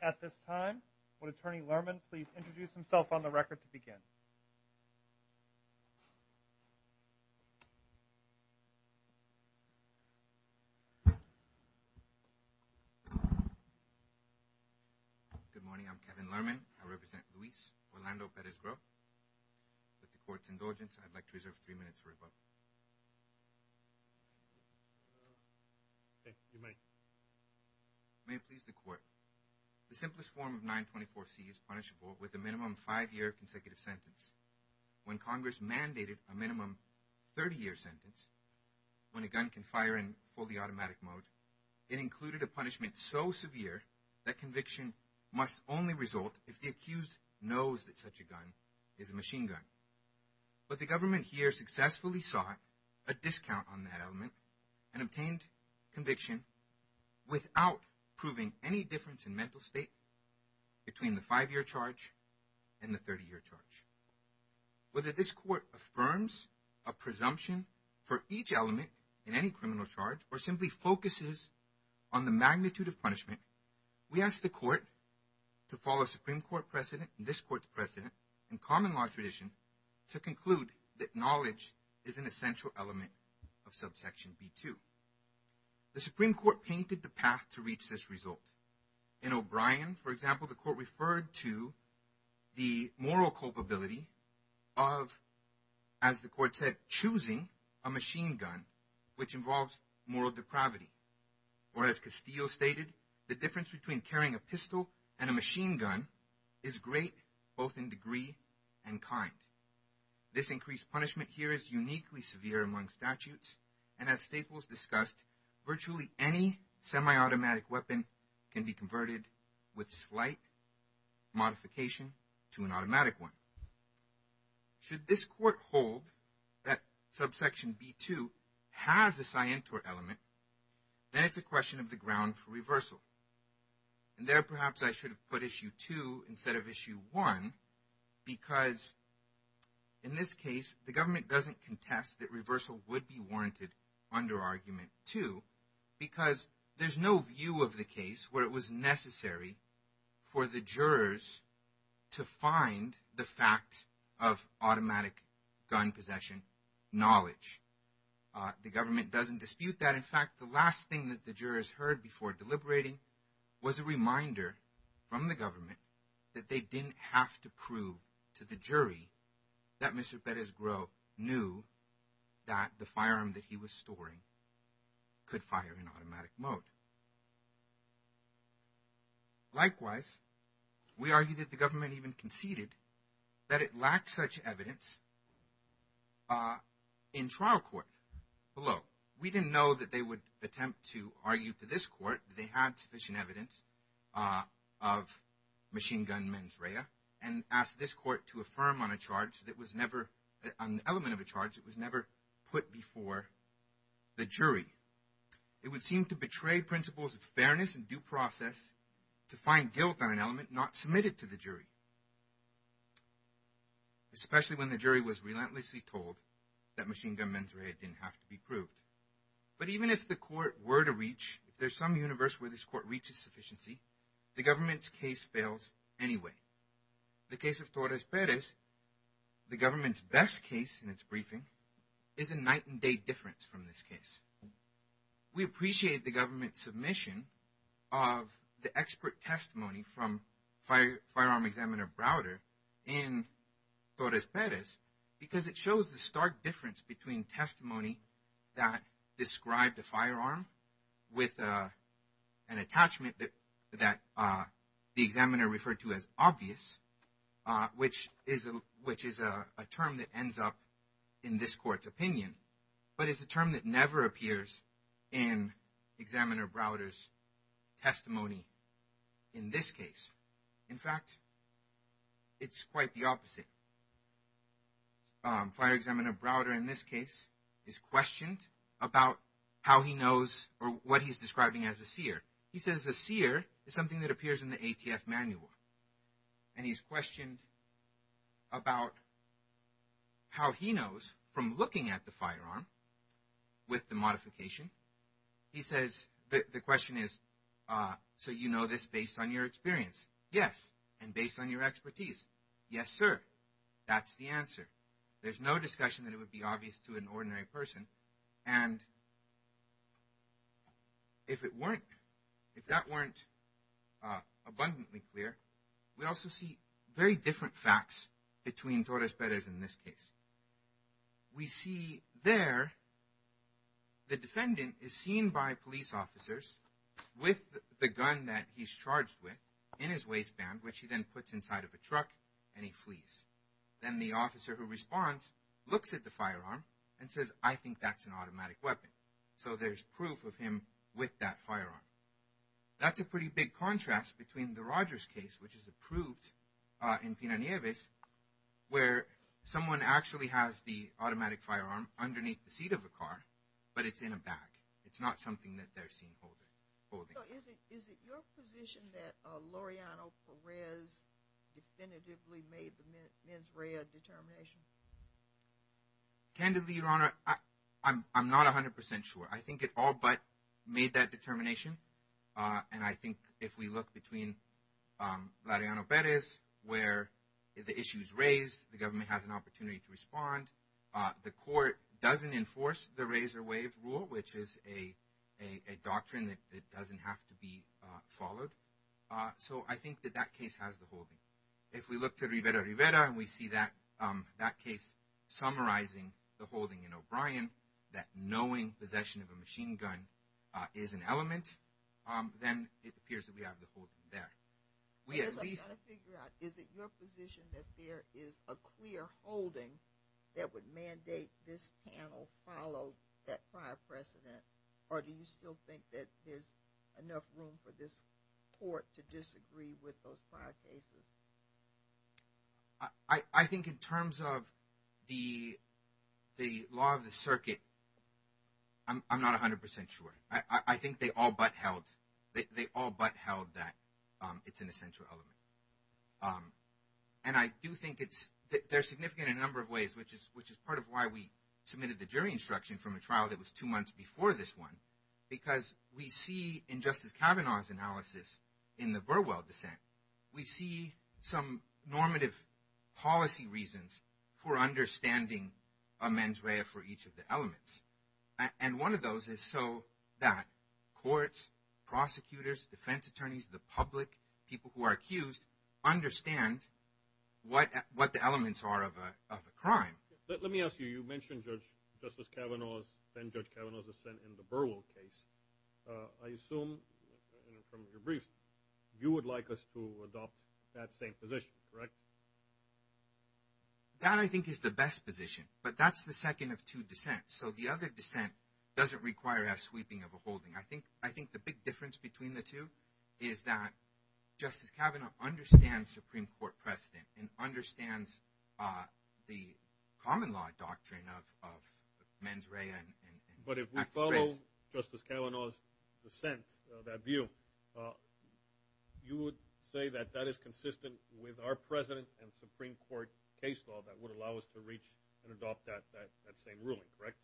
At this time, would Attorney Lerman please introduce himself on the record to begin? Good morning. I'm Kevin Lerman. I represent Luis Orlando Perez-Greaux. With the Court's indulgence, I'd like to reserve three minutes for rebuttal. Thank you. You may. May it please the Court. The simplest form of 924C is punishable with a minimum five-year consecutive sentence. When Congress mandated a minimum 30-year sentence, when a gun can fire in fully automatic mode, it included a punishment so severe that conviction must only result if the accused knows that such a gun is a machine gun. But the government here successfully sought a discount on that element and obtained conviction without proving any difference in mental state between the five-year charge and the 30-year charge. Whether this Court affirms a presumption for each element in any criminal charge or simply focuses on the magnitude of punishment, we ask the Court to follow Supreme Court precedent and this Court's precedent and common law tradition to conclude that knowledge is an In O'Brien, for example, the Court referred to the moral culpability of, as the Court said, choosing a machine gun, which involves moral depravity. Or as Castillo stated, the difference between carrying a pistol and a machine gun is great both in degree and kind. This increased punishment here is uniquely severe among statutes and as Staples discussed, virtually any semi-automatic weapon can be converted with slight modification to an automatic one. Should this Court hold that subsection B2 has a scientor element, then it's a question of the ground for reversal. And there perhaps I should have put issue 2 instead of issue 1 because in this case the government doesn't contest that reversal would be warranted under argument 2 because there's no view of the case where it was necessary for the jurors to find the fact of automatic gun possession knowledge. The government doesn't dispute that. In fact, the last thing that the jurors heard before deliberating was a reminder from the government that they didn't have to prove to the jury that Mr. Perez-Groh knew that the firearm that he was storing could fire in automatic mode. Likewise, we argue that the government even conceded that it lacked such evidence in trial court below. We didn't know that they would attempt to argue to this court that they had sufficient evidence of machine gun mens rea and asked this court to affirm on a charge that was never an element of a charge. It was never put before the jury. It would seem to betray principles of fairness and due process to find guilt on an element not submitted to the jury, especially when the jury was relentlessly told that machine gun mens rea didn't have to be proved. But even if the court were to reach, if there's some universe where this court reaches sufficiency, the government's case fails anyway. The case of Torres Perez, the government's best case in its briefing is a night and day difference from this case. We appreciate the government's submission of the expert testimony from firearm examiner Browder in Torres Perez because it shows the stark difference between testimony that described a firearm with an attachment that that the examiner referred to as obvious, which is a term that ends up in this court's opinion, but it's a term that never appears in examiner Browder's testimony in this case. In fact, it's quite the opposite. Fire examiner Browder in this case is questioned about how he knows or what he's describing as a seer. He says the seer is something that appears in the ATF manual and he's questioned about how he knows from looking at the firearm with the modification. He says that the question is, so you know this based on your experience? Yes. And based on your expertise? Yes, sir. That's the answer. There's no discussion that it would be obvious to an ordinary person. And if it weren't, if that weren't abundantly clear, we also see very by police officers with the gun that he's charged with in his waistband, which he then puts inside of a truck and he flees. Then the officer who responds, looks at the firearm and says, I think that's an automatic weapon. So there's proof of him with that firearm. That's a pretty big contrast between the Rogers case, which is approved in Pino Nieves, where someone actually has the automatic firearm underneath the seat of a car, but it's in a bag. It's not something that they're seen holding. So is it your position that Loreano Perez definitively made the mens rea determination? Candidly, Your Honor, I'm not 100% sure. I think it all but made that determination. And I think if we look between Loreano Perez, where the issue is raised, the government has an opportunity to enforce the razor wave rule, which is a doctrine that doesn't have to be followed. So I think that that case has the holding. If we look to Rivera Rivera, and we see that, that case, summarizing the holding in O'Brien, that knowing possession of a machine gun is an element, then it appears that we have the whole thing there. Is it your position that there is a clear holding that would mandate this panel follow that prior precedent? Or do you still think that there's enough room for this court to disagree with those prior cases? I think in terms of the, the law of the circuit, I'm not 100% sure. I think they all but held, they all but held that it's an essential element. And I do think it's, they're significant in a number of ways, which is, which is part of why we submitted the jury instruction from a trial that was two months before this one. Because we see in Justice Kavanaugh's analysis, in the Burwell dissent, we see some normative policy reasons for those elements. And one of those is so that courts, prosecutors, defense attorneys, the public, people who are accused, understand what what the elements are of a crime. Let me ask you, you mentioned Judge Justice Kavanaugh's and Judge Kavanaugh's dissent in the Burwell case. I assume from your briefs, you would like us to adopt that same position, right? That I think is the best position. But that's the second of two dissents. So the other dissent doesn't require a sweeping of a holding. I think, I think the big difference between the two is that Justice Kavanaugh understands Supreme Court precedent and understands the common law doctrine of mens rea. But if we follow Justice Kavanaugh's dissent, that view, you would say that that is consistent with our precedent and Supreme Court case law that would allow us to reach and adopt that same ruling, correct?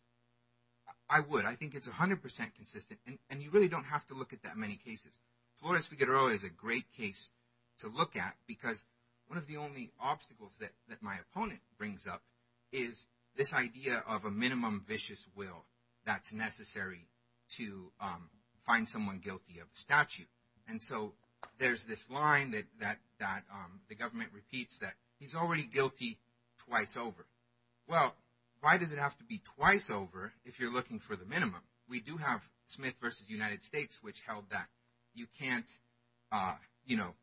I would. I think it's 100% consistent. And you really don't have to look at that many cases. Flores Figueroa is a great case to look at because one of the only obstacles that my opponent brings up is this idea of a minimum vicious will that's necessary to find someone guilty of a statute. And so there's this line that the government repeats that he's already guilty twice over. Well, why does it have to be twice over if you're looking for the minimum? We do have Smith versus United States, which held that you can't, you know,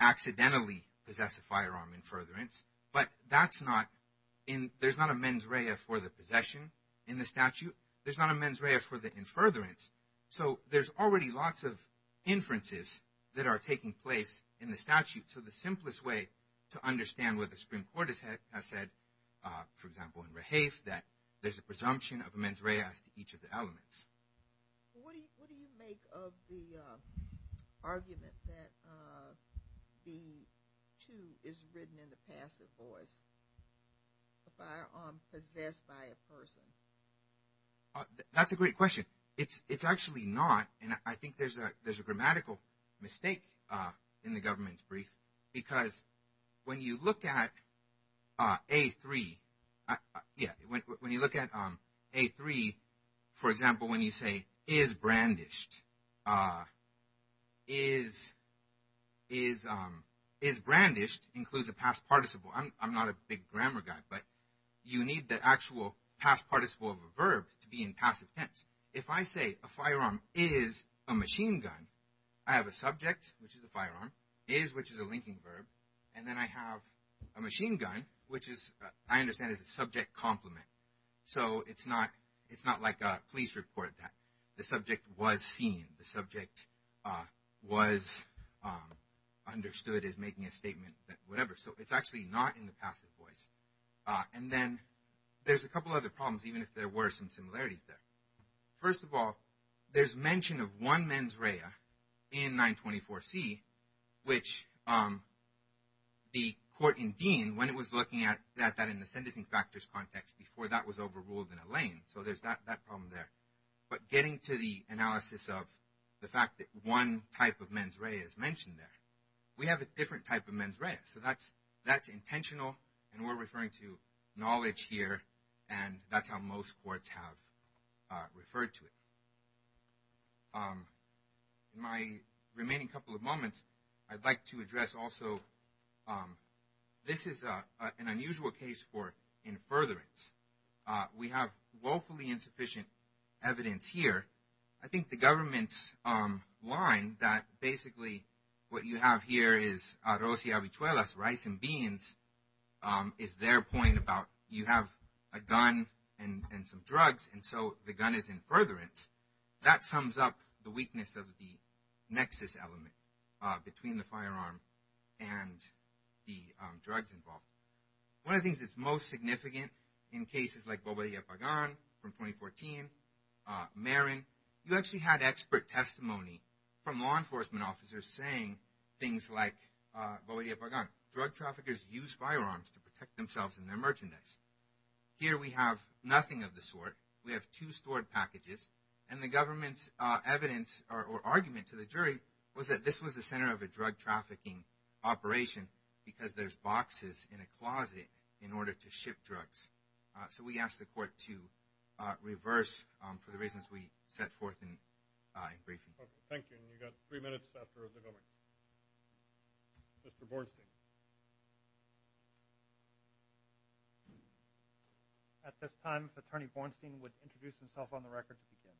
accidentally possess a firearm in furtherance. But that's not in, there's not a mens rea for the possession in the statute. There's not a mens rea for the in furtherance. So there's already lots of inferences that are taking place in the statute. So the simplest way to understand what the Supreme Court has said, for example, in Rahafe, that there's a presumption of mens rea as to each of the elements. What do you make of the That's a great question. It's actually not. And I think there's a grammatical mistake in the government's brief. Because when you look at A3, yeah, when you look at A3, for example, when you say is brandished. Is brandished includes a past participle. I'm not a big grammar guy, but you need the actual past participle of a verb to be in passive tense. If I say a firearm is a machine gun, I have a subject, which is the firearm, is, which is a linking verb. And then I have a machine gun, which is, I understand is a subject complement. So it's not, it's not like a police report that the subject was seen. The subject was understood as making a statement that whatever. So it's actually not in the passive voice. And then there's a couple other problems, even if there were some similarities there. First of all, there's mention of one mens rea in 924C, which the court in Dean, when it was looking at that in the sentencing factors context before that was overruled in a lane. So there's that problem there. But getting to the analysis of the fact that one type of mens rea is mentioned there, we have a different type of mens rea. So that's, that's intentional. And we're referring to knowledge here. And that's how most courts have referred to it. My remaining couple of moments, I'd like to address also, this is an unusual case for in furtherance. We have woefully insufficient evidence here. I think the government's line that basically, what you have here is arroz y habichuelas, rice and beans, is their point about you have a gun and some drugs. And so the gun is in furtherance. That sums up the weakness of the nexus element between the firearm and the drugs involved. One of the things that's most significant in cases like Boba y Apagán from 2014, Marin, you actually had expert testimony from law enforcement officers saying things like, Boba y Apagán, drug traffickers use firearms to protect themselves and their merchandise. Here we have nothing of the sort. We have two stored packages. And the government's evidence or argument to the jury was that this was the center of a drug So we asked the court to reverse for the reasons we set forth in briefing. Okay. Thank you. And you've got three minutes left for the government. Mr. Bornstein. At this time, Attorney Bornstein would introduce himself on the record to begin.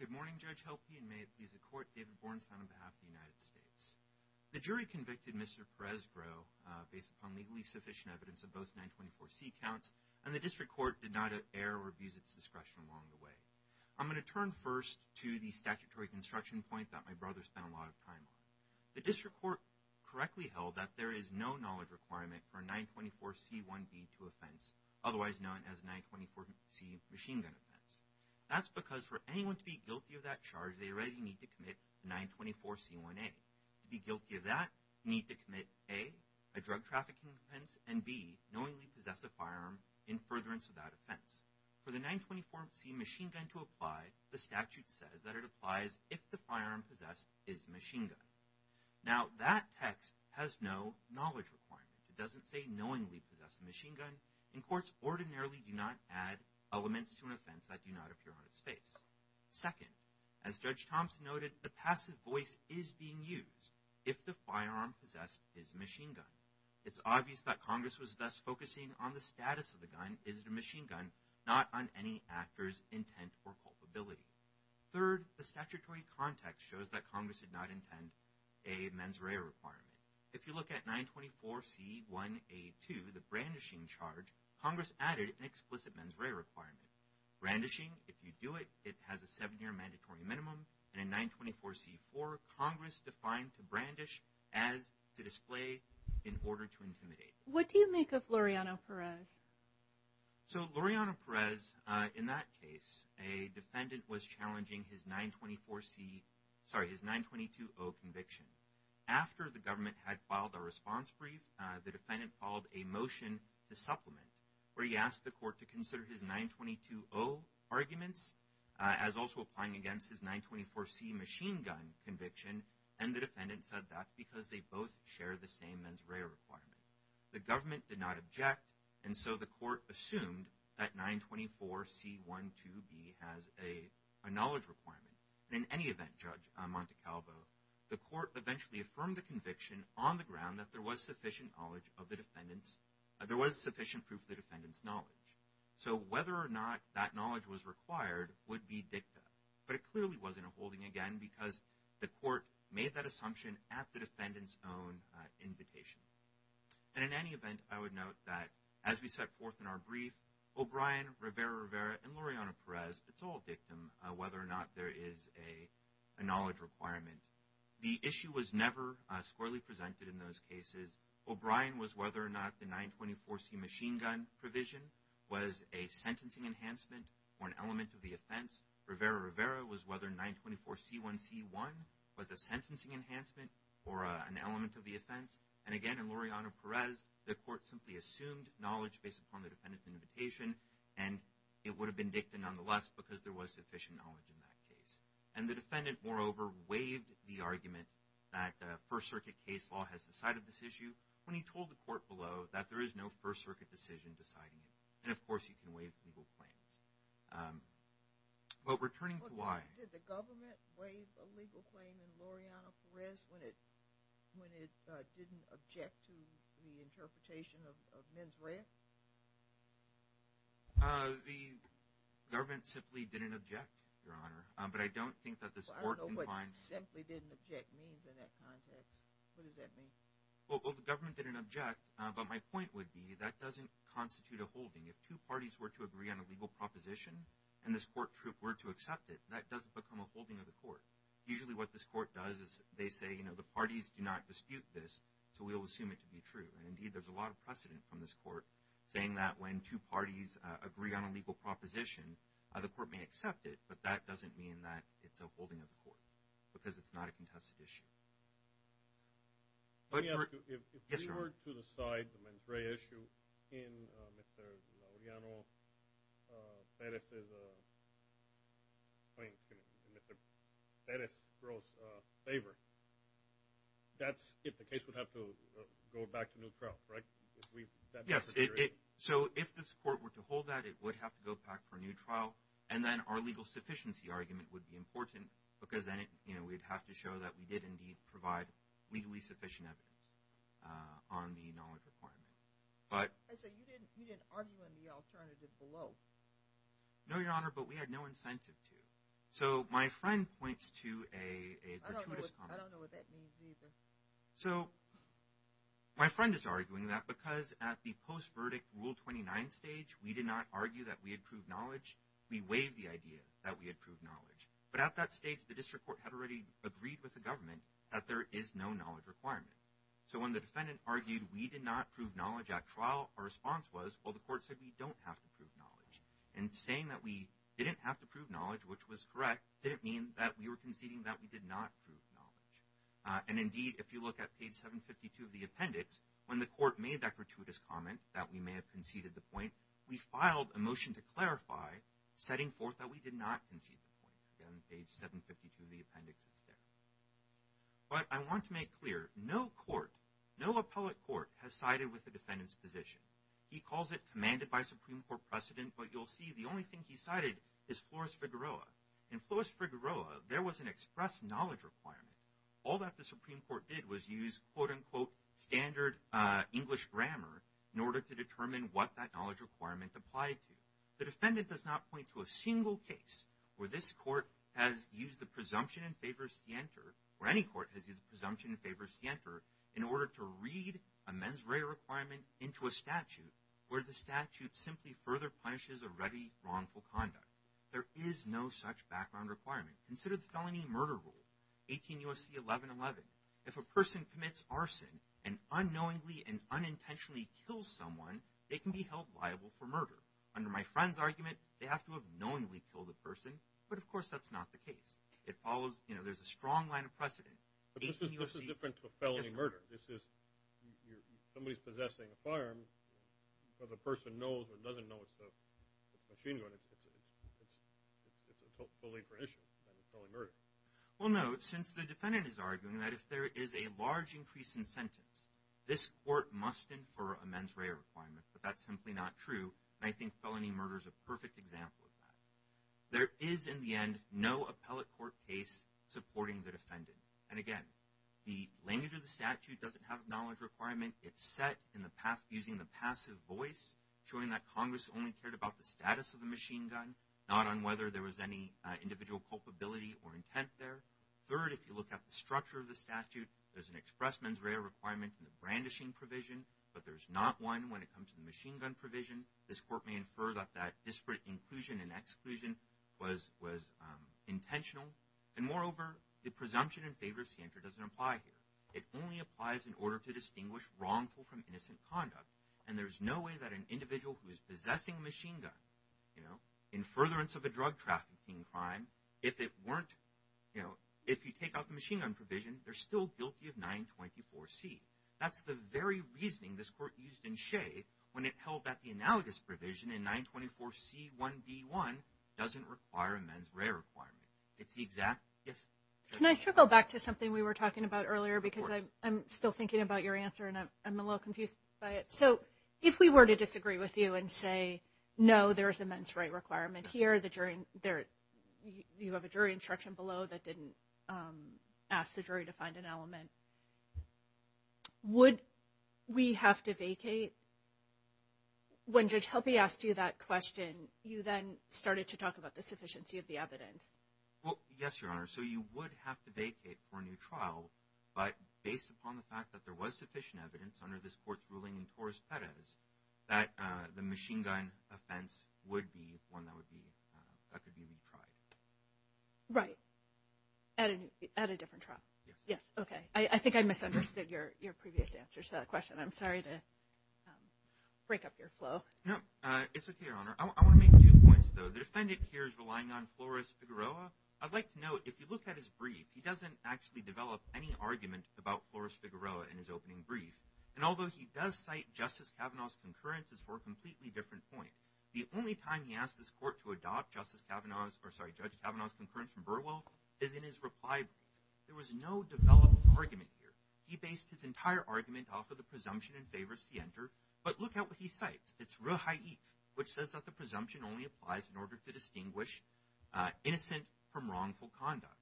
Good morning, Judge Helpe, and may it please the court, David Bornstein on behalf of the United States. The jury convicted Mr. Perez-Groh based upon legally sufficient evidence of both 924C counts, and the district court did not err or abuse its discretion along the way. I'm going to turn first to the statutory construction point that my brother spent a lot of time on. The district court correctly held that there is no knowledge requirement for a 924C1B to offense, otherwise known as a 924C machine gun offense. That's because for anyone to be guilty of that charge, they already need to commit 924C1A. To be guilty of that, you need to commit A, a drug trafficking offense, and B, knowingly possess a firearm in furtherance of that offense. For the 924C machine gun to apply, the statute says that it applies if the firearm possessed is a machine gun. Now, that text has no knowledge requirement. It doesn't say knowingly possess a machine gun, and courts ordinarily do not add elements to an offense that do not appear on its face. Second, as Judge Thompson noted, the passive voice is being used if the firearm possessed is a machine gun. It's obvious that Congress was thus focusing on the status of the gun. Is it a machine gun? Not on any actor's intent or culpability. Third, the statutory context shows that Congress did not intend a mens rea requirement. If you look at 924C1A2, the brandishing charge, Congress added an explicit mens rea requirement. Brandishing, if you do it, it has a seven-year mandatory minimum, and in 924C4, Congress defined to brandish as to display in order to intimidate. What do you make of Laureano-Perez? So, Laureano-Perez, in that case, a defendant was challenging his 924C, sorry, his 922O conviction. After the government had filed a response brief, the defendant followed a motion to supplement, where he asked the court to consider his 922O arguments as also applying against his 924C machine gun conviction, and the defendant said that's because they both share the same mens rea requirement. The government did not object, and so the court assumed that 924C12B has a knowledge requirement. In any event, Judge Montecalvo, the court eventually affirmed the conviction on the ground that there was sufficient knowledge of the defendant's, there was sufficient proof of the defendant's knowledge. So, whether or not that knowledge was required would be dicta, but it clearly wasn't a holding again because the court made that assumption at the defendant's own invitation. And in any event, I would note that as we set forth in our brief, O'Brien, Rivera-Rivera, and Laureano-Perez, it's all dictum whether or not there is a knowledge requirement. The issue was never squarely presented in those cases. O'Brien was whether or not the 924C machine gun provision was a sentencing enhancement or an element of the offense. Rivera-Rivera was whether 924C1C1 was a sentencing enhancement or an element of the offense. And again, in Laureano-Perez, the court simply assumed knowledge based upon the defendant's invitation, and it would have been dicta nonetheless because there was sufficient knowledge in that case. And the defendant, moreover, waived the argument that First Circuit case law has decided this issue when he told the court below that there is no First Circuit. But returning to why... Did the government waive a legal claim in Laureano-Perez when it didn't object to the interpretation of men's rights? The government simply didn't object, Your Honor, but I don't think that this court... I don't know what simply didn't object means in that context. What does that mean? Well, the government didn't object, but my point would be that doesn't constitute a holding. If two parties were to agree on a legal proposition and this court were to accept it, that doesn't become a holding of the court. Usually what this court does is they say, you know, the parties do not dispute this, so we'll assume it to be true. And indeed, there's a lot of precedent from this court saying that when two parties agree on a legal proposition, the court may accept it, but that doesn't mean that it's a holding of the court because it's not a contested issue. Let me ask you, if we were to decide the Mendraya issue in Mr. Laureano-Perez's claim to Mr. Perez-Gross's favor, that's if the case would have to go back to new trial, right? Yes, so if this court were to hold that, it would have to go back for new trial, and then our legal sufficiency argument would be important because then, you know, we'd have to show that we did indeed provide legally sufficient evidence on the knowledge requirement. I say, you didn't argue on the alternative below. No, Your Honor, but we had no incentive to. So my friend points to a gratuitous comment. I don't know what that means either. So my friend is arguing that because at the post-verdict Rule 29 stage, we did not argue that we had proved knowledge. We waived the idea that we had proved knowledge. But at that stage, the district court had already agreed with the government that there is no knowledge requirement. So when the defendant argued we did not prove knowledge at trial, our response was, well, the court said we don't have to prove knowledge. And saying that we didn't have to prove knowledge, which was correct, didn't mean that we were conceding that we did not prove knowledge. And indeed, if you look at page 752 of the appendix, when the court made that gratuitous comment that we may have conceded the point, we filed a motion to clarify, setting forth that we the appendix instead. But I want to make clear, no court, no appellate court has sided with the defendant's position. He calls it commanded by Supreme Court precedent. But you'll see the only thing he cited is Flores-Figueroa. In Flores-Figueroa, there was an express knowledge requirement. All that the Supreme Court did was use, quote unquote, standard English grammar in order to determine what that knowledge requirement applied to. The defendant does not point to a single case where this court has used the presumption in favor of scienter, or any court has used presumption in favor of scienter, in order to read a mens rea requirement into a statute, where the statute simply further punishes a ready wrongful conduct. There is no such background requirement. Consider the felony murder rule, 18 U.S.C. 1111. If a person commits arson and unknowingly and unintentionally kills someone, they can be held liable for murder. Under my rule, you can unknowingly kill the person. But of course, that's not the case. It follows, you know, there's a strong line of precedent. But this is different to a felony murder. This is somebody's possessing a firearm, but the person knows or doesn't know it's the machine gun. It's a totally different issue than a felony murder. Well, no. Since the defendant is arguing that if there is a large increase in sentence, this court must infer a mens rea requirement. But that's simply not true. And I think felony murder is a perfect example of that. There is, in the end, no appellate court case supporting the defendant. And again, the language of the statute doesn't have a knowledge requirement. It's set in the past using the passive voice, showing that Congress only cared about the status of the machine gun, not on whether there was any individual culpability or intent there. Third, if you look at the structure of the statute, there's an express mens rea requirement in the brandishing provision, but there's not one when it comes to the machine gun provision. This court may infer that that disparate inclusion and exclusion was intentional. And moreover, the presumption in favor of Santer doesn't apply here. It only applies in order to distinguish wrongful from innocent conduct. And there's no way that an individual who is possessing a machine gun, you know, in furtherance of a drug trafficking crime, if it weren't, you know, if you take out the machine gun provision, they're still guilty of 924C. That's the very reasoning this court used when it held that the analogous provision in 924C1B1 doesn't require a mens rea requirement. It's the exact, yes? Can I circle back to something we were talking about earlier, because I'm still thinking about your answer and I'm a little confused by it. So, if we were to disagree with you and say, no, there is a mens rea requirement here, you have a jury instruction below that didn't ask the jury to find an element, would we have to vacate? When Judge Helpe asked you that question, you then started to talk about the sufficiency of the evidence. Well, yes, Your Honor. So, you would have to vacate for a new trial, but based upon the fact that there was sufficient evidence under this court's ruling in Torres-Perez, that the machine gun offense would be one that would be, that could be retried. Right. At a different trial. Yes. Yeah. Okay. I think I misunderstood your previous answer to that question. I'm sorry to break up your flow. No, it's okay, Your Honor. I want to make two points, though. The defendant here is relying on Flores-Figueroa. I'd like to note, if you look at his brief, he doesn't actually develop any argument about Flores-Figueroa in his opening brief. And although he does cite Justice Kavanaugh's concurrences for a completely different point, the only time he asked this court to adopt Justice Kavanaugh's, or sorry, Judge Kavanaugh's concurrence from Burwell, is in his reply brief. There was no developed argument here. He based his entire argument off of the presumption in favor of Sienter, but look at what he cites. It's Reha'ik, which says that the presumption only applies in order to distinguish innocent from wrongful conduct.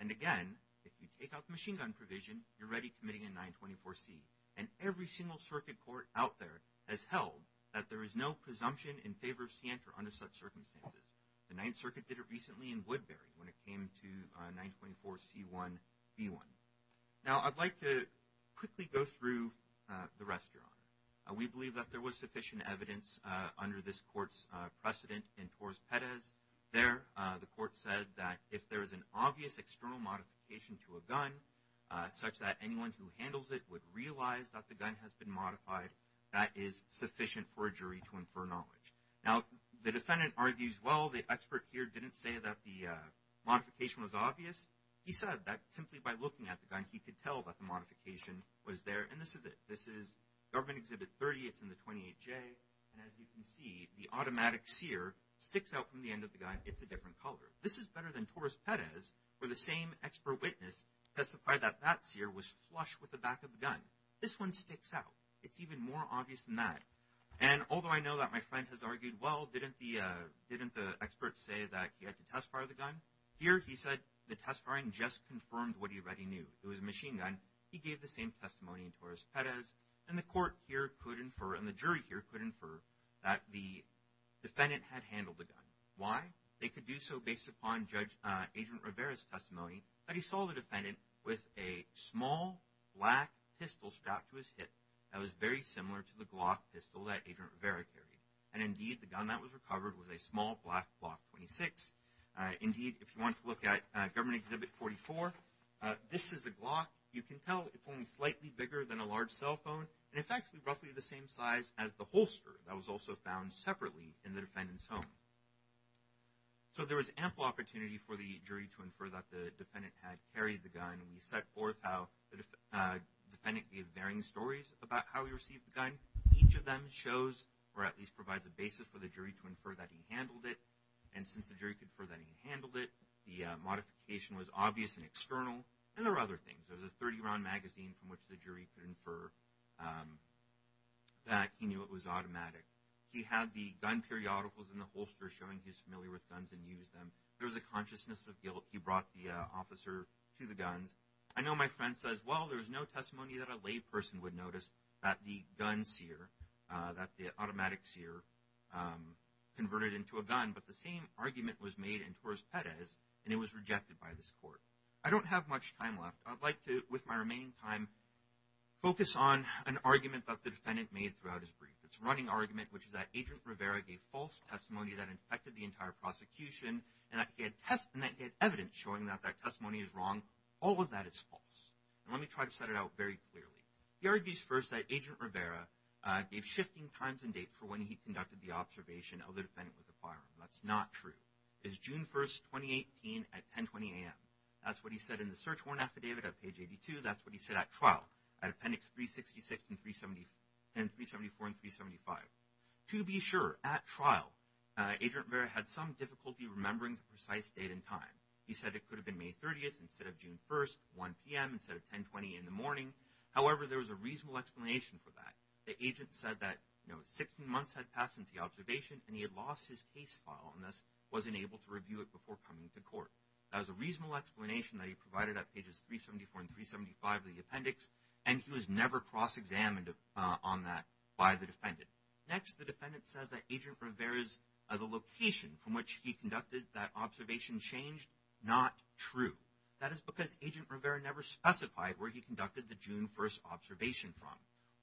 And again, if you take out the machine gun provision, you're already committing a 924C. And every single circuit court out there has held that there is no presumption in favor of Sienter under such circumstances. The Ninth Circuit did it recently in Woodbury when it came to 924C1B1. Now, I'd like to quickly go through the rest, Your Honor. We believe that there was sufficient evidence under this court's precedent in Torres-Perez. There, the court said that if there is an obvious external modification to a gun, such that anyone who handles it would realize that the gun has been modified, that is sufficient for a jury to infer knowledge. Now, the defendant argues, well, the expert here didn't say that the modification was obvious. He said that simply by looking at the gun, he could tell that the modification was there. And this is it. This is Government Exhibit 30. It's in the 28J. And as you can see, the automatic sear sticks out from the end of the gun. It's a different color. This is better than Torres-Perez, where the same expert witness testified that that sear was flush with the back of the gun. This one sticks out. It's even more obvious than that. And although I know that my friend has argued, well, didn't the expert say that he had to test fire the gun? Here, he said the test firing just confirmed what he already knew. It was a machine gun. He gave the same testimony in Torres-Perez. And the court here could infer, and the jury here could infer, that the defendant had handled the gun. Why? They could do so based upon Judge Agent Rivera's testimony that he saw the defendant with a small black pistol strapped to his hip that was very similar to the Glock pistol that Agent Rivera carried. And indeed, the gun that was recovered was a small black Glock 26. Indeed, if you want to look at Government Exhibit 44, this is a Glock. You can tell it's only slightly bigger than a large cell phone. And it's actually roughly the same size as the holster that was also found separately in the defendant's home. So there was ample opportunity for the jury to infer that the defendant had varying stories about how he received the gun. Each of them shows or at least provides a basis for the jury to infer that he handled it. And since the jury could infer that he handled it, the modification was obvious and external. And there were other things. There was a 30-round magazine from which the jury could infer that he knew it was automatic. He had the gun periodicals in the holster showing he's familiar with guns and used them. There was a consciousness of guilt. He had no testimony that a layperson would notice that the gun sear, that the automatic sear converted into a gun. But the same argument was made in Torres-Perez, and it was rejected by this court. I don't have much time left. I'd like to, with my remaining time, focus on an argument that the defendant made throughout his brief. It's a running argument, which is that Agent Rivera gave false testimony that infected the entire prosecution. And that he had tests and that he had evidence showing that that testimony is false. And let me try to set it out very clearly. He argues first that Agent Rivera gave shifting times and dates for when he conducted the observation of the defendant with the firearm. That's not true. It's June 1, 2018, at 10.20 a.m. That's what he said in the search warrant affidavit at page 82. That's what he said at trial, at appendix 366 and 374 and 375. To be sure, at trial, Agent Rivera had some difficulty remembering the precise date and time. He said it could have been May 30th instead of June 1st, 1 p.m. instead of 10.20 in the morning. However, there was a reasonable explanation for that. The agent said that, you know, 16 months had passed since the observation, and he had lost his case file, and thus wasn't able to review it before coming to court. That was a reasonable explanation that he provided at pages 374 and 375 of the appendix, and he was never cross-examined on that by the defendant. Next, the defendant says that Agent Rivera's location from which he conducted that observation changed, not true. That is because Agent Rivera never specified where he conducted the June 1st observation from.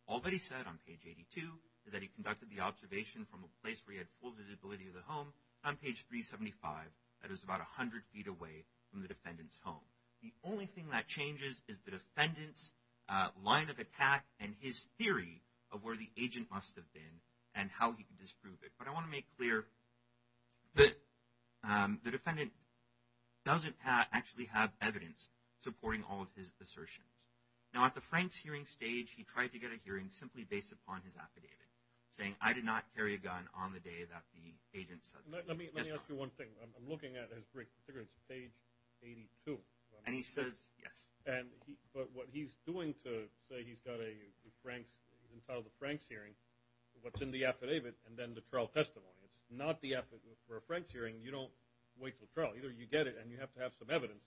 All that he said on page 82 is that he conducted the observation from a place where he had full visibility of the home. On page 375, that is about 100 feet away from the defendant's home. The only thing that changes is the defendant's line of attack and his theory of where the agent must have been and how he could disprove it. But I want to make clear that the defendant doesn't actually have evidence supporting all of his assertions. Now, at the Franks hearing stage, he tried to get a hearing simply based upon his affidavit, saying, I did not carry a gun on the day that the agent said that. Let me ask you one thing. I'm looking at his reconsideration at page 82. And he says, yes. But what he's doing to say he's got a Franks, in front of the Franks hearing, what's in the affidavit, and then the trial testimony. It's not the affidavit for a Franks hearing. You don't wait for trial. Either you get it and you have to have some evidence.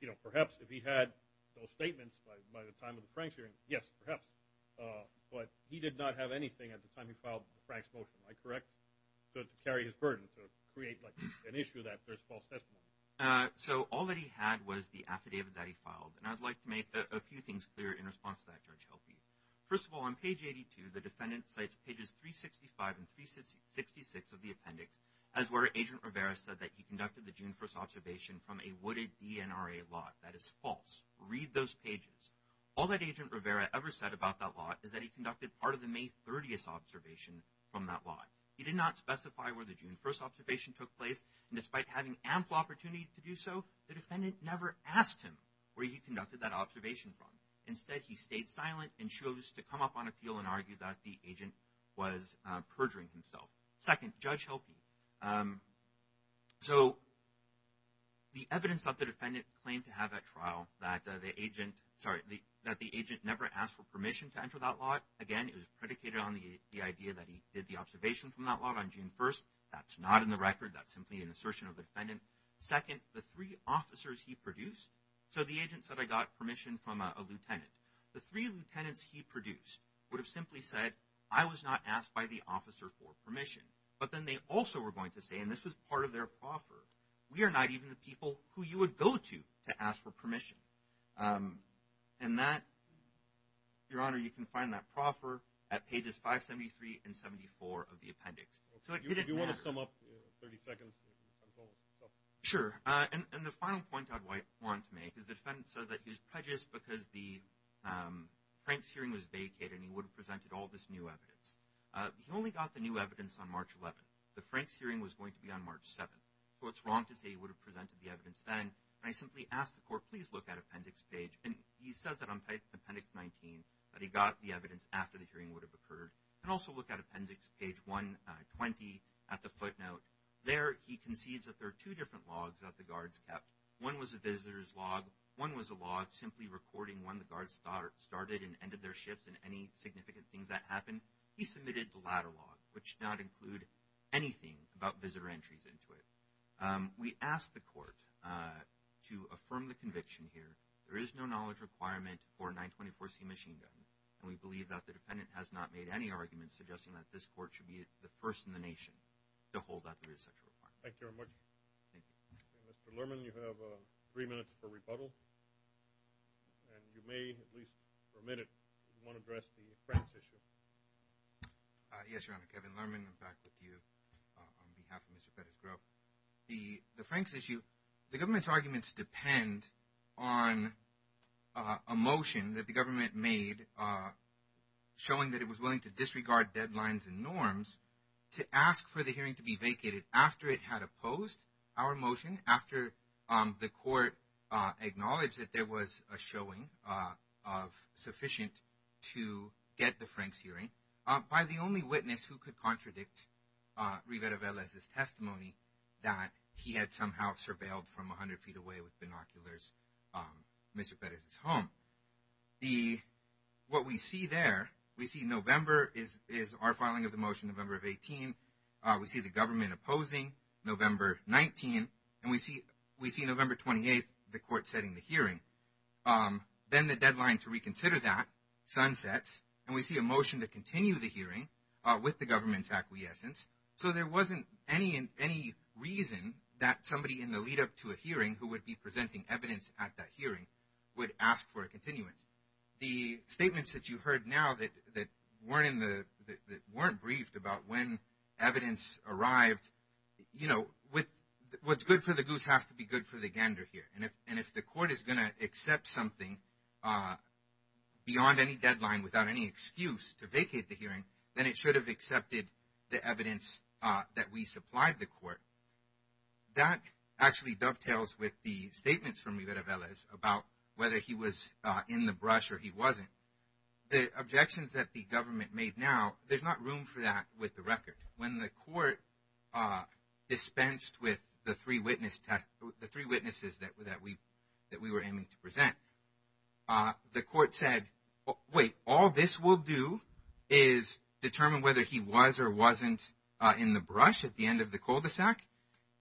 You know, perhaps if he had those statements by the time of the Franks hearing, yes, perhaps. But he did not have anything at the time he filed the Franks motion, am I correct, to carry his burden, to create like an issue that there's false testimony? So all that he had was the affidavit that he filed. And I'd like to make a few things clear in response to that, Judge Helfried. First of all, on page 82, the defendant cites pages 365 and 366 of the appendix, as where Agent Rivera said that he conducted the June 1st observation from a wooded DNRA lot. That is false. Read those pages. All that Agent Rivera ever said about that lot is that he conducted part of the May 30th observation from that lot. He did not specify where the June 1st observation took place. And despite having ample opportunity to do so, the defendant never asked him where he conducted that observation from. Instead, he stayed silent and chose to come up on appeal and argue that the agent was perjuring himself. Second, Judge Helfried. So the evidence that the defendant claimed to have at trial that the agent never asked for permission to enter that lot, again, it was predicated on the idea that he did the observation from that lot on June 1st. That's not in the record. That's simply an assertion of the defendant. Second, the three officers he produced. So the agent said, I got permission from a lieutenant. The three lieutenants he produced would have simply said, I was not asked by the officer for permission. But then they also were going to say, and this was part of their proffer, we are not even the people who you would go to to ask for permission. And that, Your Honor, you can find that proffer at pages 573 and 74 of the appendix. You want to sum up 30 seconds? Sure. And the final point I'd want to make is the defendant says that he was prejudiced because the Frank's hearing was vacated and he would have presented all this new evidence. He only got the new evidence on March 11th. The Frank's hearing was going to be on March 7th. So it's wrong to say he would have presented the evidence then. And I simply asked the court, please look at appendix page. And he says that on appendix 19, that he got the evidence after the hearing would have occurred. And also look at appendix page 120 at the footnote. There, he concedes that there are two different logs that the guards kept. One was a visitor's log. One was a log simply recording when the guards started and ended their shifts and any significant things that happened. He submitted the latter log, which did not include anything about visitor entries into it. We asked the court to affirm the conviction here. There is no knowledge requirement for 924C machine guns. And we have not made any arguments suggesting that this court should be the first in the nation to hold that there is such a requirement. Thank you very much. Mr. Lerman, you have three minutes for rebuttal. And you may, at least for a minute, want to address the Frank's issue. Yes, Your Honor. Kevin Lerman. I'm back with you on behalf of Mr. Fettersgrove. The Frank's issue, the government's arguments depend on a motion that the government made showing that it was willing to disregard deadlines and norms to ask for the hearing to be vacated after it had opposed our motion, after the court acknowledged that there was a showing of sufficient to get the Frank's hearing, by the only witness who could contradict Rivera-Velez's testimony that he had somehow surveilled from 100 feet away with binoculars Mr. Fetters' home. What we see there, we see November is our filing of the motion, November of 18. We see the government opposing, November 19. And we see November 28, the court setting the hearing. Then the deadline to reconsider that sunsets. And we see a motion to continue the hearing with the government's acquiescence. So there wasn't any reason that somebody in the hearing would ask for a continuance. The statements that you heard now that weren't briefed about when evidence arrived, what's good for the goose has to be good for the gander here. And if the court is going to accept something beyond any deadline, without any excuse to vacate the hearing, then it should have accepted the evidence that we supplied the court. That actually dovetails with the statements from Rivera-Velez about whether he was in the brush or he wasn't. The objections that the government made now, there's not room for that with the record. When the court dispensed with the three witnesses that we were aiming to present, the court said, wait, all this will do is determine whether he was or wasn't in the brush at the end of the cul-de-sac.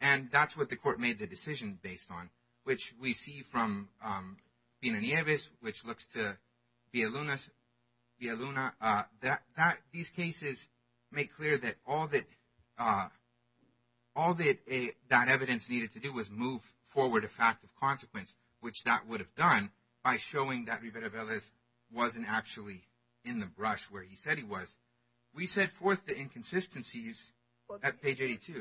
And that's what the decision based on, which we see from Pino Nieves, which looks to Villaluna. These cases make clear that all that evidence needed to do was move forward a fact of consequence, which that would have done by showing that Rivera-Velez wasn't actually in the brush where he said he was. We set forth the inconsistencies at page 82.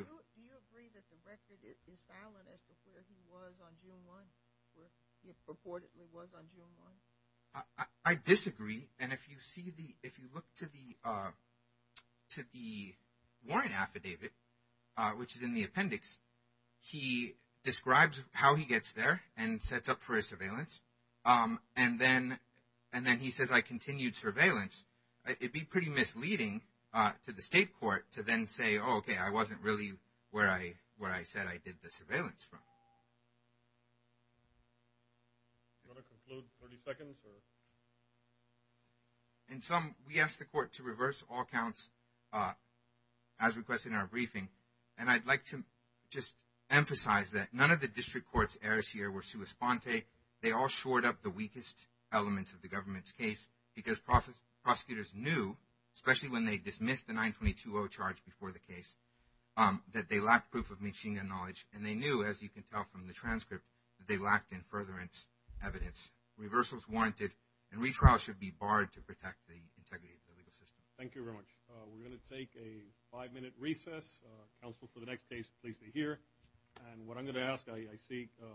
I disagree. And if you look to the warrant affidavit, which is in the appendix, he describes how he gets there and sets up for a surveillance. And then he says, continued surveillance, it'd be pretty misleading to the state court to then say, oh, okay, I wasn't really where I said I did the surveillance from. In sum, we asked the court to reverse all counts as requested in our briefing. And I'd like to just emphasize that none of the district court's errors here were They all shored up the weakest elements of the government's case because prosecutors knew, especially when they dismissed the 922-0 charge before the case, that they lacked proof of machine gun knowledge. And they knew, as you can tell from the transcript, that they lacked in furtherance evidence. Reversals warranted and retrials should be barred to protect the integrity of the legal system. Thank you very much. We're going to take a five-minute recess. Counsel, for the next case, please be here. And what I'm going to ask, I seek